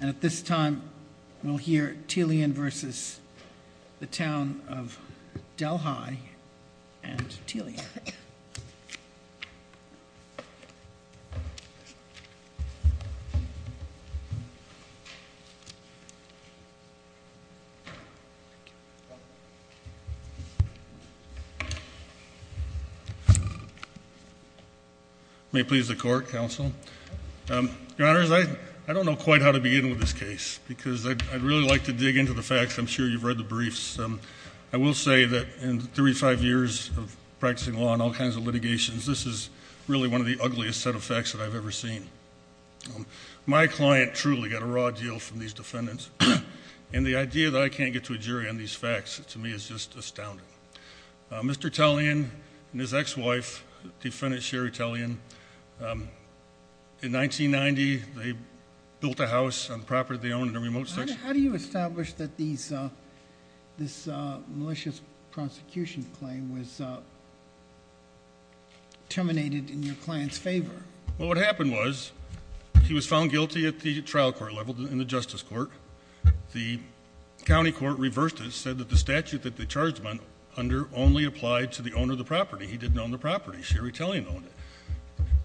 And at this time we'll hear Tilian v. Town of Delhi and Tilian. May it please the court, counsel. Your honors, I don't know quite how to begin with this case because I'd really like to dig into the facts. I'm sure you've read the briefs. I will say that in 35 years of practicing law and all kinds of litigations, this is really one of the ugliest set of facts that I've ever seen. My client truly got a raw deal from these defendants, and the idea that I can't get to a jury on these facts to me is just astounding. Mr. Tilian and his ex-wife, defendant Sherry Tilian, in 1990 they built a house on property they owned in a remote section. How do you establish that this malicious prosecution claim was terminated in your client's favor? Well, what happened was he was found guilty at the trial court level, in the justice court. The county court reversed it, said that the statute that they charged him under only applied to the owner of the property. He didn't own the property. Sherry Tilian owned it.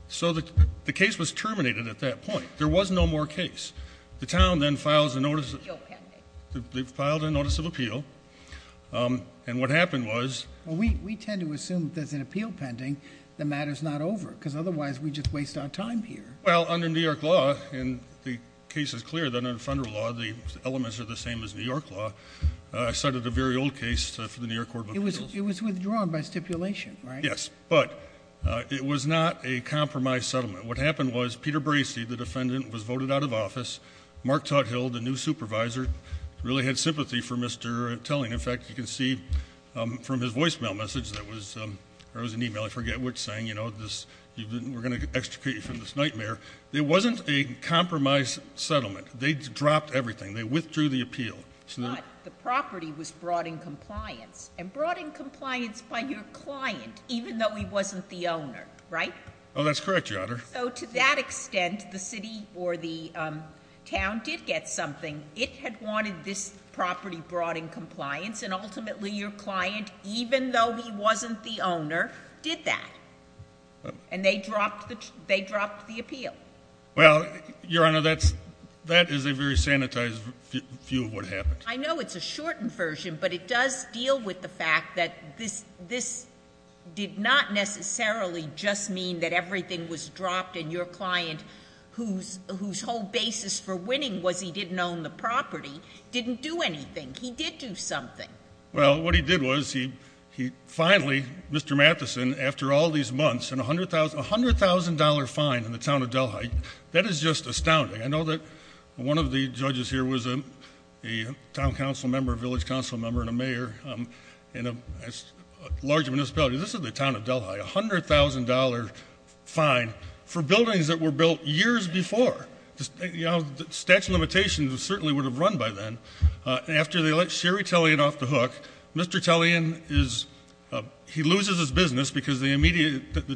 So the case was terminated at that point. There was no more case. The town then filed a notice of appeal, and what happened was... We tend to assume that there's an appeal pending, the matter's not over, because otherwise we just waste our time here. Well, under New York law, and the case is clear that under federal law, the elements are the same as New York law, I cited a very old case for the New York Court of Appeals. It was withdrawn by stipulation, right? Yes, but it was not a compromise settlement. What happened was Peter Bracey, the defendant, was voted out of office. Mark Tuthill, the new supervisor, really had sympathy for Mr. Tilling. In fact, you can see from his voicemail message that was... Or it was an email, I forget which, saying, you know, we're going to extricate you from this nightmare. It wasn't a compromise settlement. They dropped everything. They withdrew the appeal. But the property was brought in compliance, and brought in compliance by your client, even though he wasn't the owner, right? Oh, that's correct, Your Honor. So to that extent, the city or the town did get something. It had wanted this property brought in compliance, and ultimately your client, even though he wasn't the owner, did that. And they dropped the appeal. Well, Your Honor, that is a very sanitized view of what happened. I know it's a shortened version, but it does deal with the fact that this did not necessarily just mean that everything was dropped, and your client, whose whole basis for winning was he didn't own the property, didn't do anything. He did do something. Well, what he did was he finally, Mr. Matheson, after all these months, a $100,000 fine in the town of Delhite. That is just astounding. I know that one of the judges here was a town council member, a village council member, and a mayor in a large municipality. This is the town of Delhite, a $100,000 fine for buildings that were built years before. The statute of limitations certainly would have run by then. After they let Sherry Tellian off the hook, Mr. Tellian loses his business because the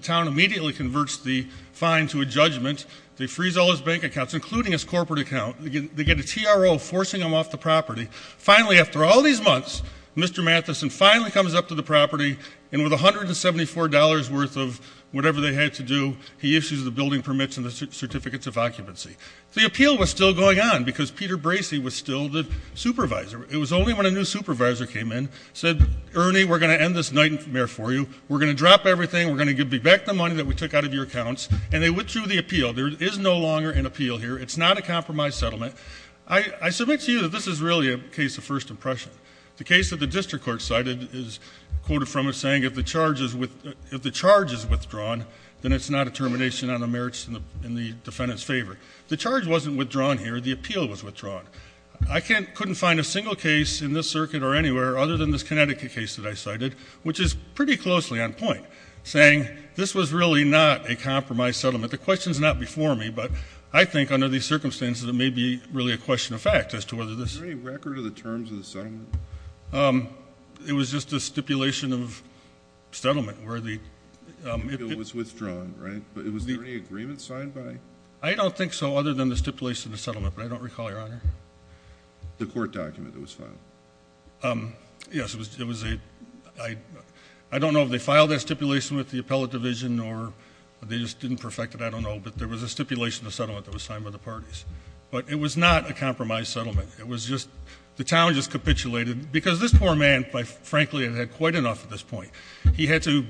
town immediately converts the fine to a judgment. They freeze all his bank accounts, including his corporate account. They get a TRO forcing him off the property. Finally, after all these months, Mr. Matheson finally comes up to the property, and with $174 worth of whatever they had to do, he issues the building permits and the certificates of occupancy. The appeal was still going on because Peter Bracey was still the supervisor. It was only when a new supervisor came in, said, Ernie, we're going to end this nightmare for you. We're going to drop everything. We're going to give you back the money that we took out of your accounts. And they withdrew the appeal. There is no longer an appeal here. It's not a compromise settlement. I submit to you that this is really a case of first impression. The case that the district court cited is quoted from it saying if the charge is withdrawn, then it's not a termination on the merits in the defendant's favor. The charge wasn't withdrawn here. The appeal was withdrawn. I couldn't find a single case in this circuit or anywhere other than this Connecticut case that I cited, which is pretty closely on point, saying this was really not a compromise settlement. The question is not before me, but I think under these circumstances, it may be really a question of fact as to whether this ---- Is there any record of the terms of the settlement? It was just a stipulation of settlement where the ---- The appeal was withdrawn, right? But was there any agreement signed by ---- I don't think so other than the stipulation of the settlement, but I don't recall, Your Honor. The court document that was filed. Yes, it was a ---- I don't know if they filed that stipulation with the appellate division or they just didn't perfect it. I don't know, but there was a stipulation of settlement that was signed by the parties. But it was not a compromise settlement. It was just the town just capitulated because this poor man, frankly, had had quite enough at this point. He had to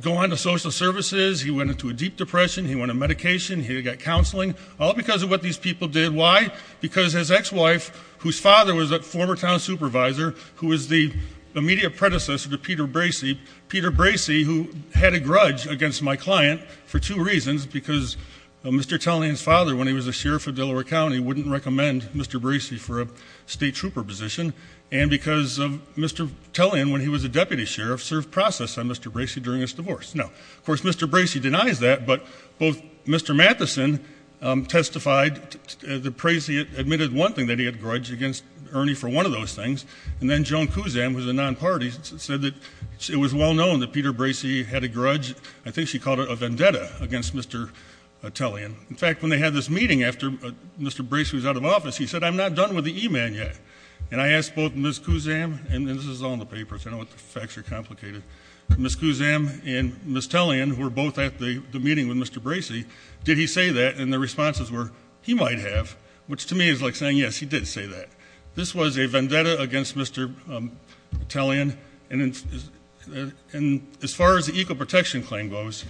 go on to social services. He went into a deep depression. He went on medication. He got counseling, all because of what these people did. Why? Because his ex-wife, whose father was a former town supervisor, who was the immediate predecessor to Peter Bracey. Peter Bracey, who had a grudge against my client for two reasons, because Mr. Tellian's father, when he was a sheriff of Delaware County, wouldn't recommend Mr. Bracey for a state trooper position, and because Mr. Tellian, when he was a deputy sheriff, served process on Mr. Bracey during his divorce. Now, of course, Mr. Bracey denies that, but both Mr. Matheson testified, admitted one thing, that he had a grudge against Ernie for one of those things, and then Joan Kuzan, who's a non-party, said that it was well-known that Peter Bracey had a grudge, I think she called it a vendetta, against Mr. Tellian. In fact, when they had this meeting after Mr. Bracey was out of office, he said, I'm not done with the E-man yet. And I asked both Ms. Kuzan, and this is all in the papers, I know the facts are complicated, Ms. Kuzan and Ms. Tellian, who were both at the meeting with Mr. Bracey, did he say that, and the responses were, he might have, which to me is like saying, yes, he did say that. This was a vendetta against Mr. Tellian, and as far as the eco-protection claim goes,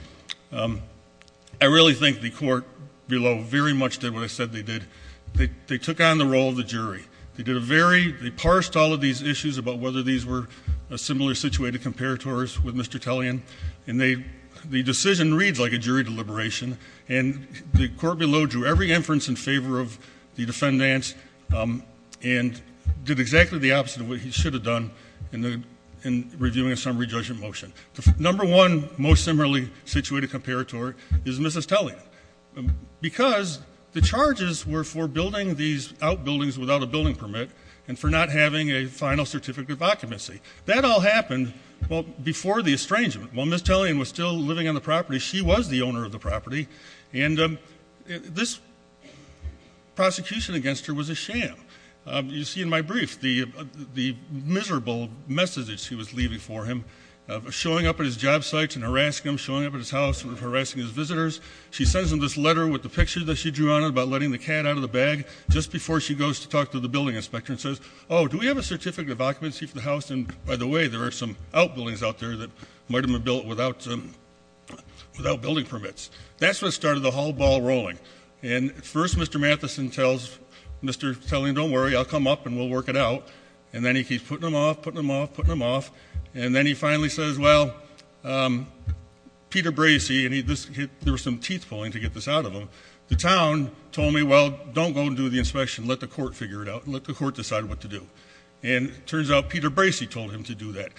I really think the court below very much did what I said they did. They took on the role of the jury. They did a very, they parsed all of these issues about whether these were similar situated comparators with Mr. Tellian, and the decision reads like a jury deliberation, and the court below drew every inference in favor of the defendants, and did exactly the opposite of what he should have done in reviewing a summary judgment motion. The number one most similarly situated comparator is Mrs. Tellian, because the charges were for building these outbuildings without a building permit, and for not having a final certificate of occupancy. That all happened, well, before the estrangement. While Mrs. Tellian was still living on the property, she was the owner of the property, and this prosecution against her was a sham. You see in my brief the miserable message that she was leaving for him, showing up at his job sites and harassing him, showing up at his house and harassing his visitors. She sends him this letter with the picture that she drew on it about letting the cat out of the bag, just before she goes to talk to the building inspector and says, oh, do we have a certificate of occupancy for the house? And, by the way, there are some outbuildings out there that might have been built without building permits. That's what started the whole ball rolling. And first Mr. Matheson tells Mr. Tellian, don't worry, I'll come up and we'll work it out. And then he keeps putting him off, putting him off, putting him off. And then he finally says, well, Peter Bracey, and there were some teeth pulling to get this out of him, so the town told me, well, don't go and do the inspection. Let the court figure it out. Let the court decide what to do. And it turns out Peter Bracey told him to do that.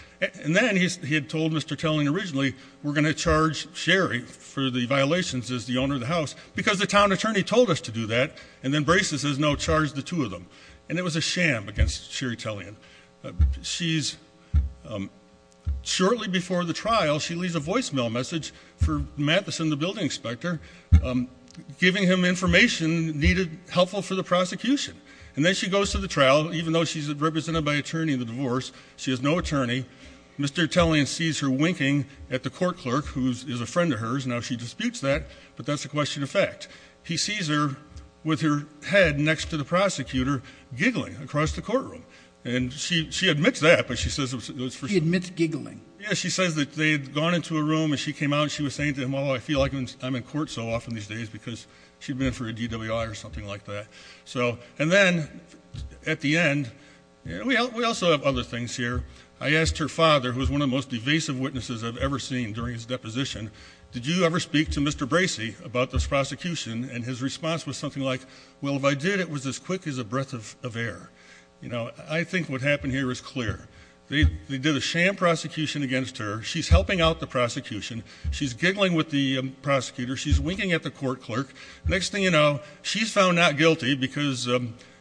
And then he had told Mr. Tellian originally we're going to charge Sherry for the violations as the owner of the house because the town attorney told us to do that, and then Bracey says, no, charge the two of them. And it was a sham against Sherry Tellian. Shortly before the trial, she leaves a voicemail message for Matheson, the building inspector, giving him information needed, helpful for the prosecution. And then she goes to the trial, even though she's represented by an attorney in the divorce. She has no attorney. Mr. Tellian sees her winking at the court clerk, who is a friend of hers. Now she disputes that, but that's a question of fact. He sees her with her head next to the prosecutor giggling across the courtroom. And she admits that, but she says it was for show. She admits giggling. Yeah, she says that they had gone into a room and she came out and she was saying to him, oh, I feel like I'm in court so often these days because she'd been in for a DWI or something like that. And then at the end, we also have other things here. I asked her father, who is one of the most evasive witnesses I've ever seen during his deposition, did you ever speak to Mr. Bracey about this prosecution? And his response was something like, well, if I did, it was as quick as a breath of air. I think what happened here is clear. They did a sham prosecution against her. She's helping out the prosecution. She's giggling with the prosecutor. She's winking at the court clerk. Next thing you know, she's found not guilty because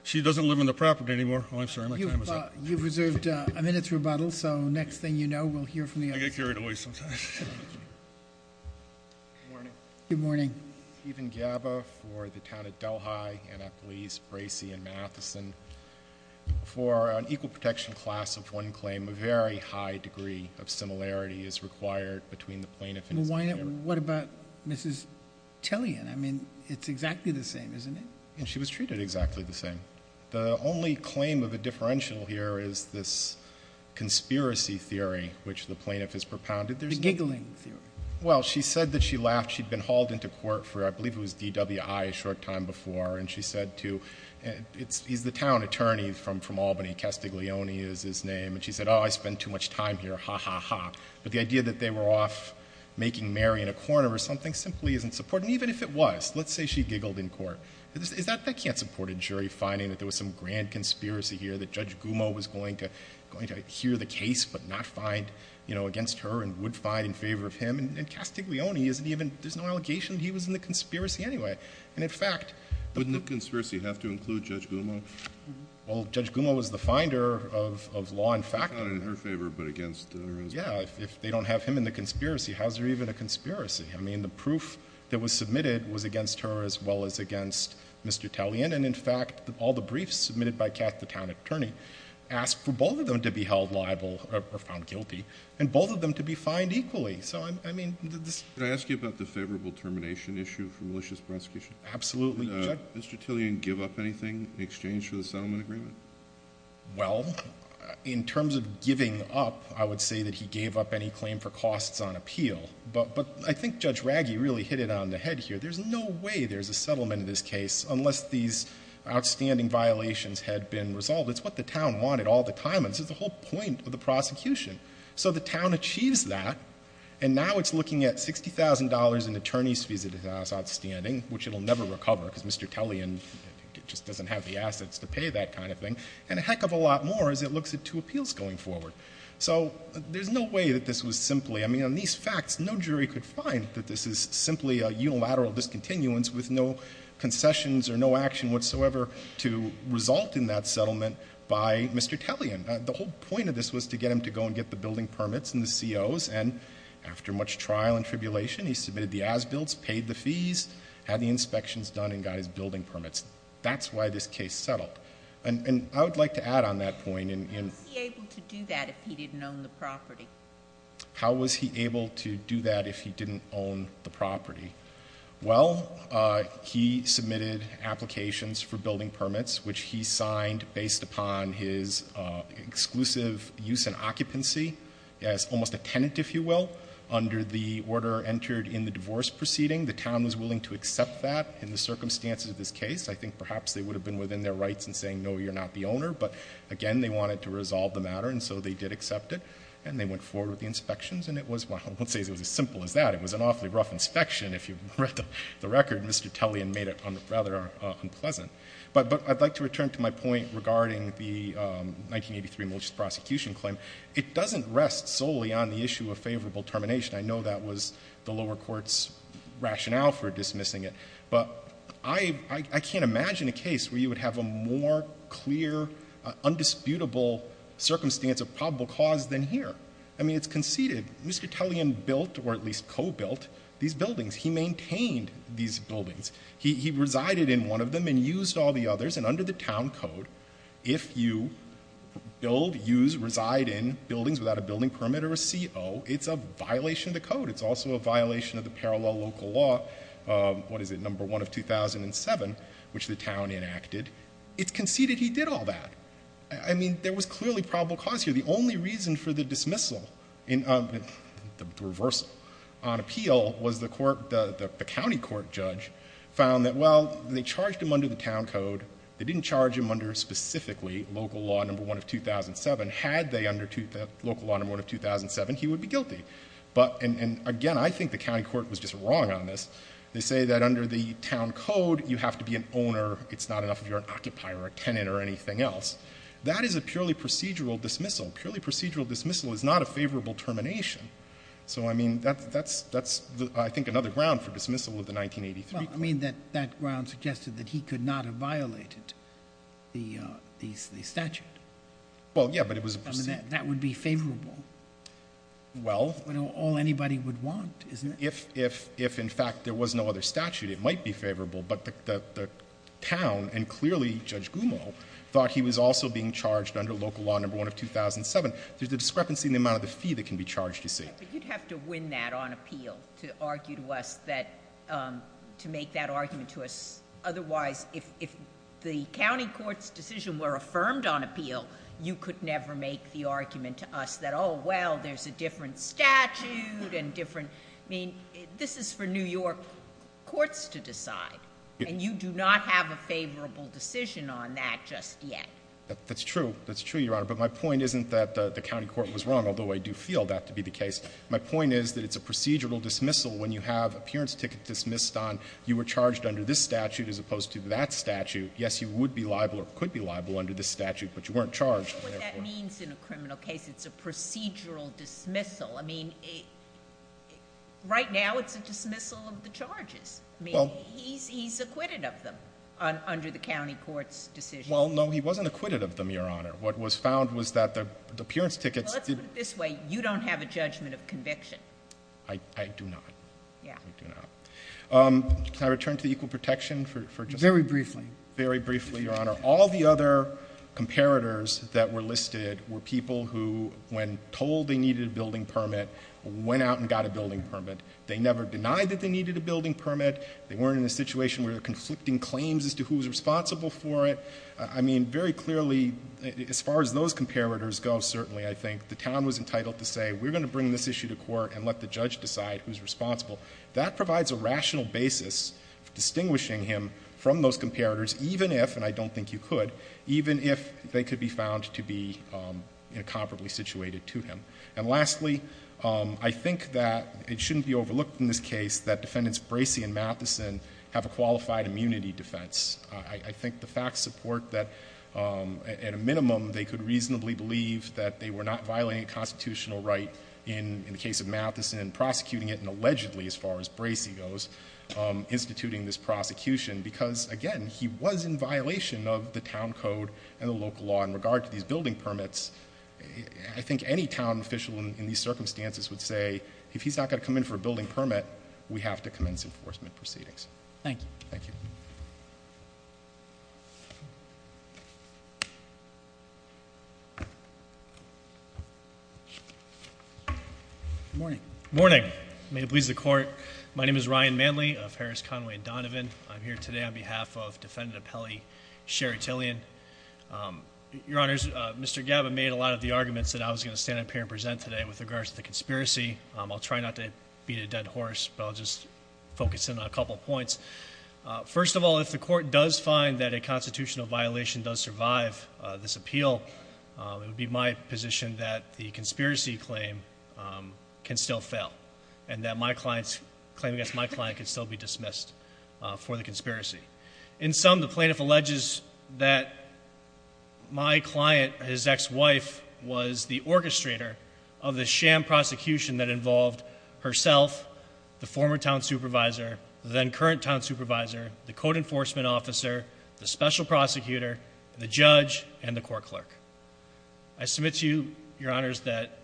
she doesn't live on the property anymore. Oh, I'm sorry. My time is up. You've reserved a minute's rebuttal, so next thing you know, we'll hear from the other side. I get carried away sometimes. Good morning. Good morning. Stephen Gaba for the town of Delhi, Annapolis, Bracey, and Matheson. For an equal protection class of one claim, a very high degree of similarity is required between the plaintiff and his lawyer. What about Mrs. Tellian? I mean, it's exactly the same, isn't it? She was treated exactly the same. The only claim of a differential here is this conspiracy theory, which the plaintiff has propounded. The giggling theory. Well, she said that she laughed she'd been hauled into court for, I believe it was DWI a short time before, and she said to, he's the town attorney from Albany, Castiglione is his name, and she said, oh, I spend too much time here, ha, ha, ha. But the idea that they were off making Mary in a corner or something simply isn't supporting, even if it was. Let's say she giggled in court. That can't support a jury finding that there was some grand conspiracy here, that Judge Gumo was going to hear the case but not find, you know, against her and would find in favor of him. And Castiglione isn't even, there's no allegation he was in the conspiracy anyway. And in fact, Wouldn't the conspiracy have to include Judge Gumo? Well, Judge Gumo was the finder of law and fact. Not in her favor, but against her. Yeah, if they don't have him in the conspiracy, how is there even a conspiracy? I mean, the proof that was submitted was against her as well as against Mr. Tellian, and in fact, all the briefs submitted by Cass, the town attorney, asked for both of them to be held liable or found guilty, and both of them to be fined equally. So, I mean, this Can I ask you about the favorable termination issue for malicious prosecution? Absolutely. Did Mr. Tellian give up anything in exchange for the settlement agreement? Well, in terms of giving up, I would say that he gave up any claim for costs on appeal. But I think Judge Raggi really hit it on the head here. There's no way there's a settlement in this case unless these outstanding violations had been resolved. It's what the town wanted all the time, and this is the whole point of the prosecution. So the town achieves that, and now it's looking at $60,000 in attorney's fees that are outstanding, which it will never recover because Mr. Tellian just doesn't have the assets to pay that kind of thing, and a heck of a lot more as it looks at two appeals going forward. So there's no way that this was simply — I mean, on these facts, no jury could find that this is simply a unilateral discontinuance with no concessions or no action whatsoever to result in that settlement by Mr. Tellian. The whole point of this was to get him to go and get the building permits and the COs, and after much trial and tribulation, he submitted the as-bills, paid the fees, had the inspections done, and got his building permits. That's why this case settled. And I would like to add on that point in — How was he able to do that if he didn't own the property? How was he able to do that if he didn't own the property? Well, he submitted applications for building permits, which he signed based upon his exclusive use and occupancy as almost a tenant, if you will, under the order entered in the divorce proceeding. The town was willing to accept that in the circumstances of this case. I think perhaps they would have been within their rights in saying, no, you're not the owner, but again, they wanted to resolve the matter, and so they did accept it, and they went forward with the inspections, and it was — well, I won't say it was as simple as that. It was an awfully rough inspection, if you've read the record. Mr. Tellian made it rather unpleasant. But I'd like to return to my point regarding the 1983 malicious prosecution claim. It doesn't rest solely on the issue of favorable termination. I know that was the lower court's rationale for dismissing it, but I can't imagine a case where you would have a more clear, undisputable circumstance of probable cause than here. I mean, it's conceded. Mr. Tellian built, or at least co-built, these buildings. He maintained these buildings. He resided in one of them and used all the others, and under the town code, if you build, use, reside in buildings without a building permit or a CO, it's a violation of the code. It's also a violation of the parallel local law, what is it, No. 1 of 2007, which the town enacted. It's conceded he did all that. I mean, there was clearly probable cause here. The only reason for the dismissal, the reversal on appeal, was the county court judge found that, well, they charged him under the town code. They didn't charge him under specifically local law No. 1 of 2007. Had they under local law No. 1 of 2007, he would be guilty. And again, I think the county court was just wrong on this. They say that under the town code, you have to be an owner. It's not enough if you're an occupier or a tenant or anything else. That is a purely procedural dismissal. Purely procedural dismissal is not a favorable termination. So, I mean, that's, I think, another ground for dismissal of the 1983. Well, I mean, that ground suggested that he could not have violated the statute. Well, yeah, but it was a procedural. I mean, that would be favorable. Well. All anybody would want, isn't it? If, in fact, there was no other statute, it might be favorable. But the town, and clearly Judge Gumo, thought he was also being charged under local law No. 1 of 2007. There's a discrepancy in the amount of the fee that can be charged, you see. But you'd have to win that on appeal to argue to us that, to make that argument to us. Otherwise, if the county court's decision were affirmed on appeal, you could never make the argument to us that, oh, well, there's a different statute and different. I mean, this is for New York courts to decide. And you do not have a favorable decision on that just yet. That's true. That's true, Your Honor. But my point isn't that the county court was wrong, although I do feel that to be the case. My point is that it's a procedural dismissal. When you have appearance ticket dismissed on, you were charged under this statute as opposed to that statute. Yes, you would be liable or could be liable under this statute, but you weren't charged. I don't know what that means in a criminal case. It's a procedural dismissal. I mean, right now, it's a dismissal of the charges. I mean, he's acquitted of them under the county court's decision. Well, no, he wasn't acquitted of them, Your Honor. What was found was that the appearance tickets did— Well, let's put it this way. You don't have a judgment of conviction. I do not. Yeah. I do not. Can I return to the equal protection for just a moment? Very briefly. Very briefly, Your Honor. All the other comparators that were listed were people who, when told they needed a building permit, went out and got a building permit. They never denied that they needed a building permit. They weren't in a situation where they're conflicting claims as to who was responsible for it. I mean, very clearly, as far as those comparators go, certainly, I think, the town was entitled to say, we're going to bring this issue to court and let the judge decide who's responsible. That provides a rational basis for distinguishing him from those comparators, even if, and I don't think you could, even if they could be found to be incomparably situated to him. And lastly, I think that it shouldn't be overlooked in this case that Defendants Bracey and Matheson have a qualified immunity defense. I think the facts support that, at a minimum, they could reasonably believe that they were not violating a constitutional right in the case of Matheson, prosecuting it, and allegedly, as far as Bracey goes, instituting this prosecution. Because again, he was in violation of the town code and the local law in regard to these building permits. I think any town official in these circumstances would say, if he's not going to come in for a building permit, we have to commence enforcement proceedings. Thank you. Thank you. Good morning. Morning. May it please the court. My name is Ryan Manley of Harris, Conway, and Donovan. I'm here today on behalf of Defendant Appellee Sherry Tillian. Your Honors, Mr. Gabbin made a lot of the arguments that I was going to stand up here and present today with regards to the conspiracy. I'll try not to beat a dead horse, but I'll just focus in on a couple points. First of all, if the court does find that a constitutional violation does survive this appeal, it would be my position that the conspiracy claim can still fail, and that my client's claim against my client can still be dismissed for the conspiracy. In sum, the plaintiff alleges that my client, his ex-wife, was the orchestrator of the sham prosecution that involved herself, the former town supervisor, the then current town supervisor, the code enforcement officer, the special prosecutor, the judge, and the court clerk. I submit to you, Your Honors, that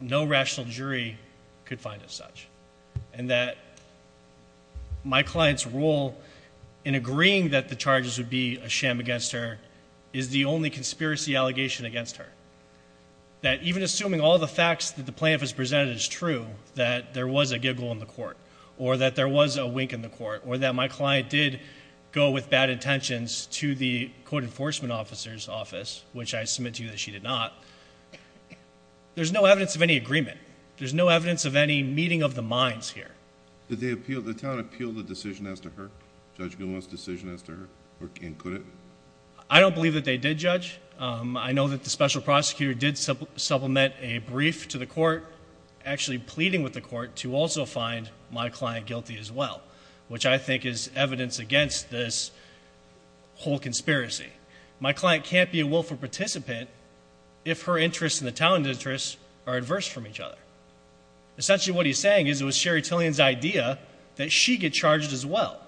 no rational jury could find it such, and that my client's role in agreeing that the charges would be a sham against her is the only conspiracy allegation against her. That even assuming all the facts that the plaintiff has presented is true, that there was a giggle in the court, or that there was a wink in the court, or that my client did go with bad intentions to the code enforcement officer's office, which I submit to you that she did not, there's no evidence of any agreement. There's no evidence of any meeting of the minds here. Did the town appeal the decision as to her, Judge Goodwin's decision as to her, and could it? I don't believe that they did, Judge. I know that the special prosecutor did supplement a brief to the court, actually pleading with the court to also find my client guilty as well, which I think is evidence against this whole conspiracy. My client can't be a willful participant if her interests and the town's interests are adverse from each other. Essentially what he's saying is it was Sherry Tillian's idea that she get charged as well,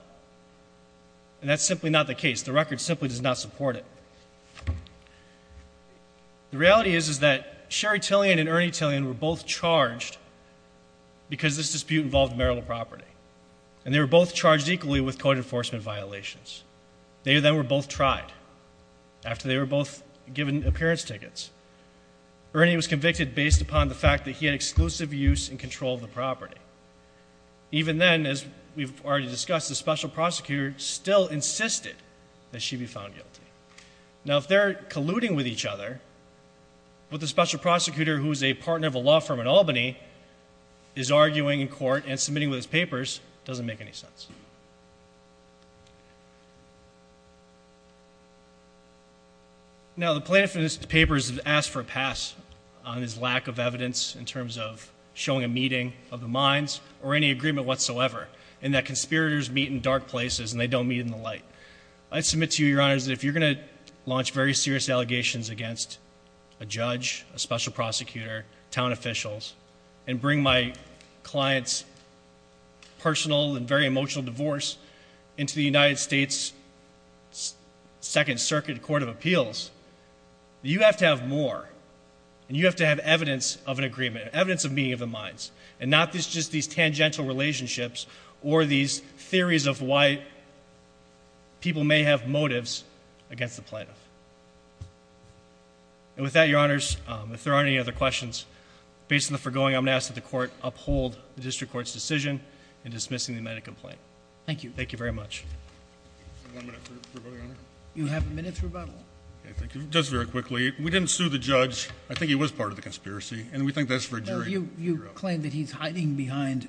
and that's simply not the case. The record simply does not support it. The reality is is that Sherry Tillian and Ernie Tillian were both charged because this dispute involved marital property, and they were both charged equally with code enforcement violations. They then were both tried after they were both given appearance tickets. Ernie was convicted based upon the fact that he had exclusive use and control of the property. Even then, as we've already discussed, the special prosecutor still insisted that she be found guilty. Now, if they're colluding with each other, what the special prosecutor, who is a partner of a law firm in Albany, is arguing in court and submitting with his papers doesn't make any sense. Now, the plaintiff in his papers has asked for a pass on his lack of evidence in terms of showing a meeting of the minds or any agreement whatsoever, and that conspirators meet in dark places and they don't meet in the light. I submit to you, Your Honors, that if you're going to launch very serious allegations against a judge, a special prosecutor, town officials, and bring my client's personal and very emotional divorce into the United States Second Circuit Court of Appeals, you have to have more, and you have to have evidence of an agreement, evidence of meeting of the minds, and not just these tangential relationships or these theories of why people may have motives against the plaintiff. And with that, Your Honors, if there aren't any other questions, based on the foregoing, I'm going to ask that the Court uphold the District Court's decision in dismissing the amended complaint. Thank you. Thank you very much. One minute for rebuttal, Your Honor. You have a minute for rebuttal. Just very quickly. We didn't sue the judge. I think he was part of the conspiracy, and we think that's for a jury to figure out. You claim that he's hiding behind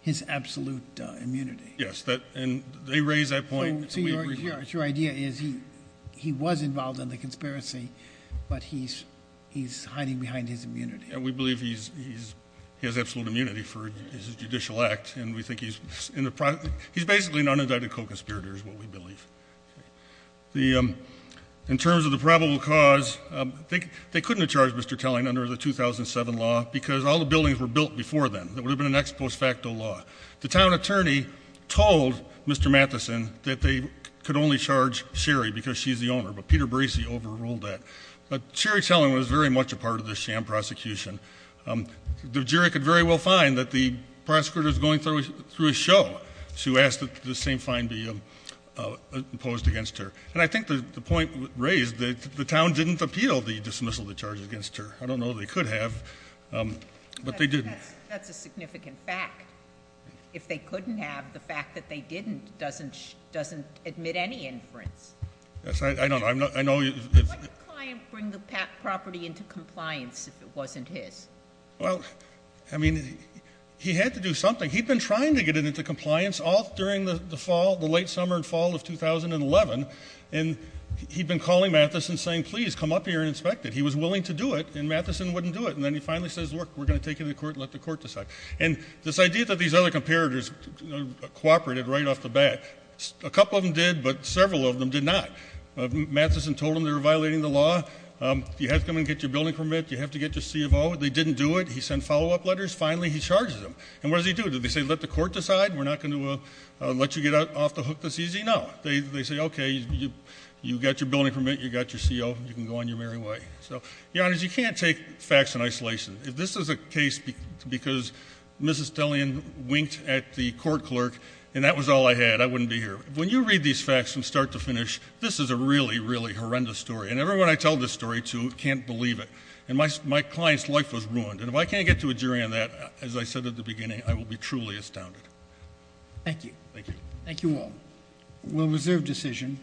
his absolute immunity. Yes, and they raise that point. So your idea is he was involved in the conspiracy, but he's hiding behind his immunity. And we believe he has absolute immunity for his judicial act, and we think he's basically an unindicted co-conspirator is what we believe. In terms of the probable cause, they couldn't have charged Mr. Telling under the 2007 law because all the buildings were built before then. That would have been an ex post facto law. The town attorney told Mr. Matheson that they could only charge Sherry because she's the owner, but Peter Bracey overruled that. But Sherry Telling was very much a part of this sham prosecution. The jury could very well find that the prosecutor is going through a show. So you ask that the same fine be imposed against her. And I think the point raised that the town didn't appeal the dismissal of the charges against her. I don't know they could have, but they didn't. That's a significant fact. If they couldn't have, the fact that they didn't doesn't admit any inference. Yes, I know. Why didn't the client bring the property into compliance if it wasn't his? Well, I mean, he had to do something. He'd been trying to get it into compliance all during the fall, the late summer and fall of 2011, and he'd been calling Matheson saying, please, come up here and inspect it. He was willing to do it, and Matheson wouldn't do it. And then he finally says, look, we're going to take it to court and let the court decide. And this idea that these other comparators cooperated right off the bat, a couple of them did, but several of them did not. Matheson told them they were violating the law. You have to come and get your building permit. You have to get your CFO. They didn't do it. He sent follow-up letters. Finally, he charges them. And what does he do? Did he say, let the court decide? We're not going to let you get off the hook this easy? No. They say, okay, you got your building permit, you got your CO, you can go on your merry way. So, Your Honors, you can't take facts in isolation. This is a case because Mrs. Tellian winked at the court clerk, and that was all I had. I wouldn't be here. When you read these facts from start to finish, this is a really, really horrendous story. And everyone I tell this story to can't believe it. And my client's life was ruined. And if I can't get to a jury on that, as I said at the beginning, I will be truly astounded. Thank you. Thank you. Thank you all. We'll reserve decision.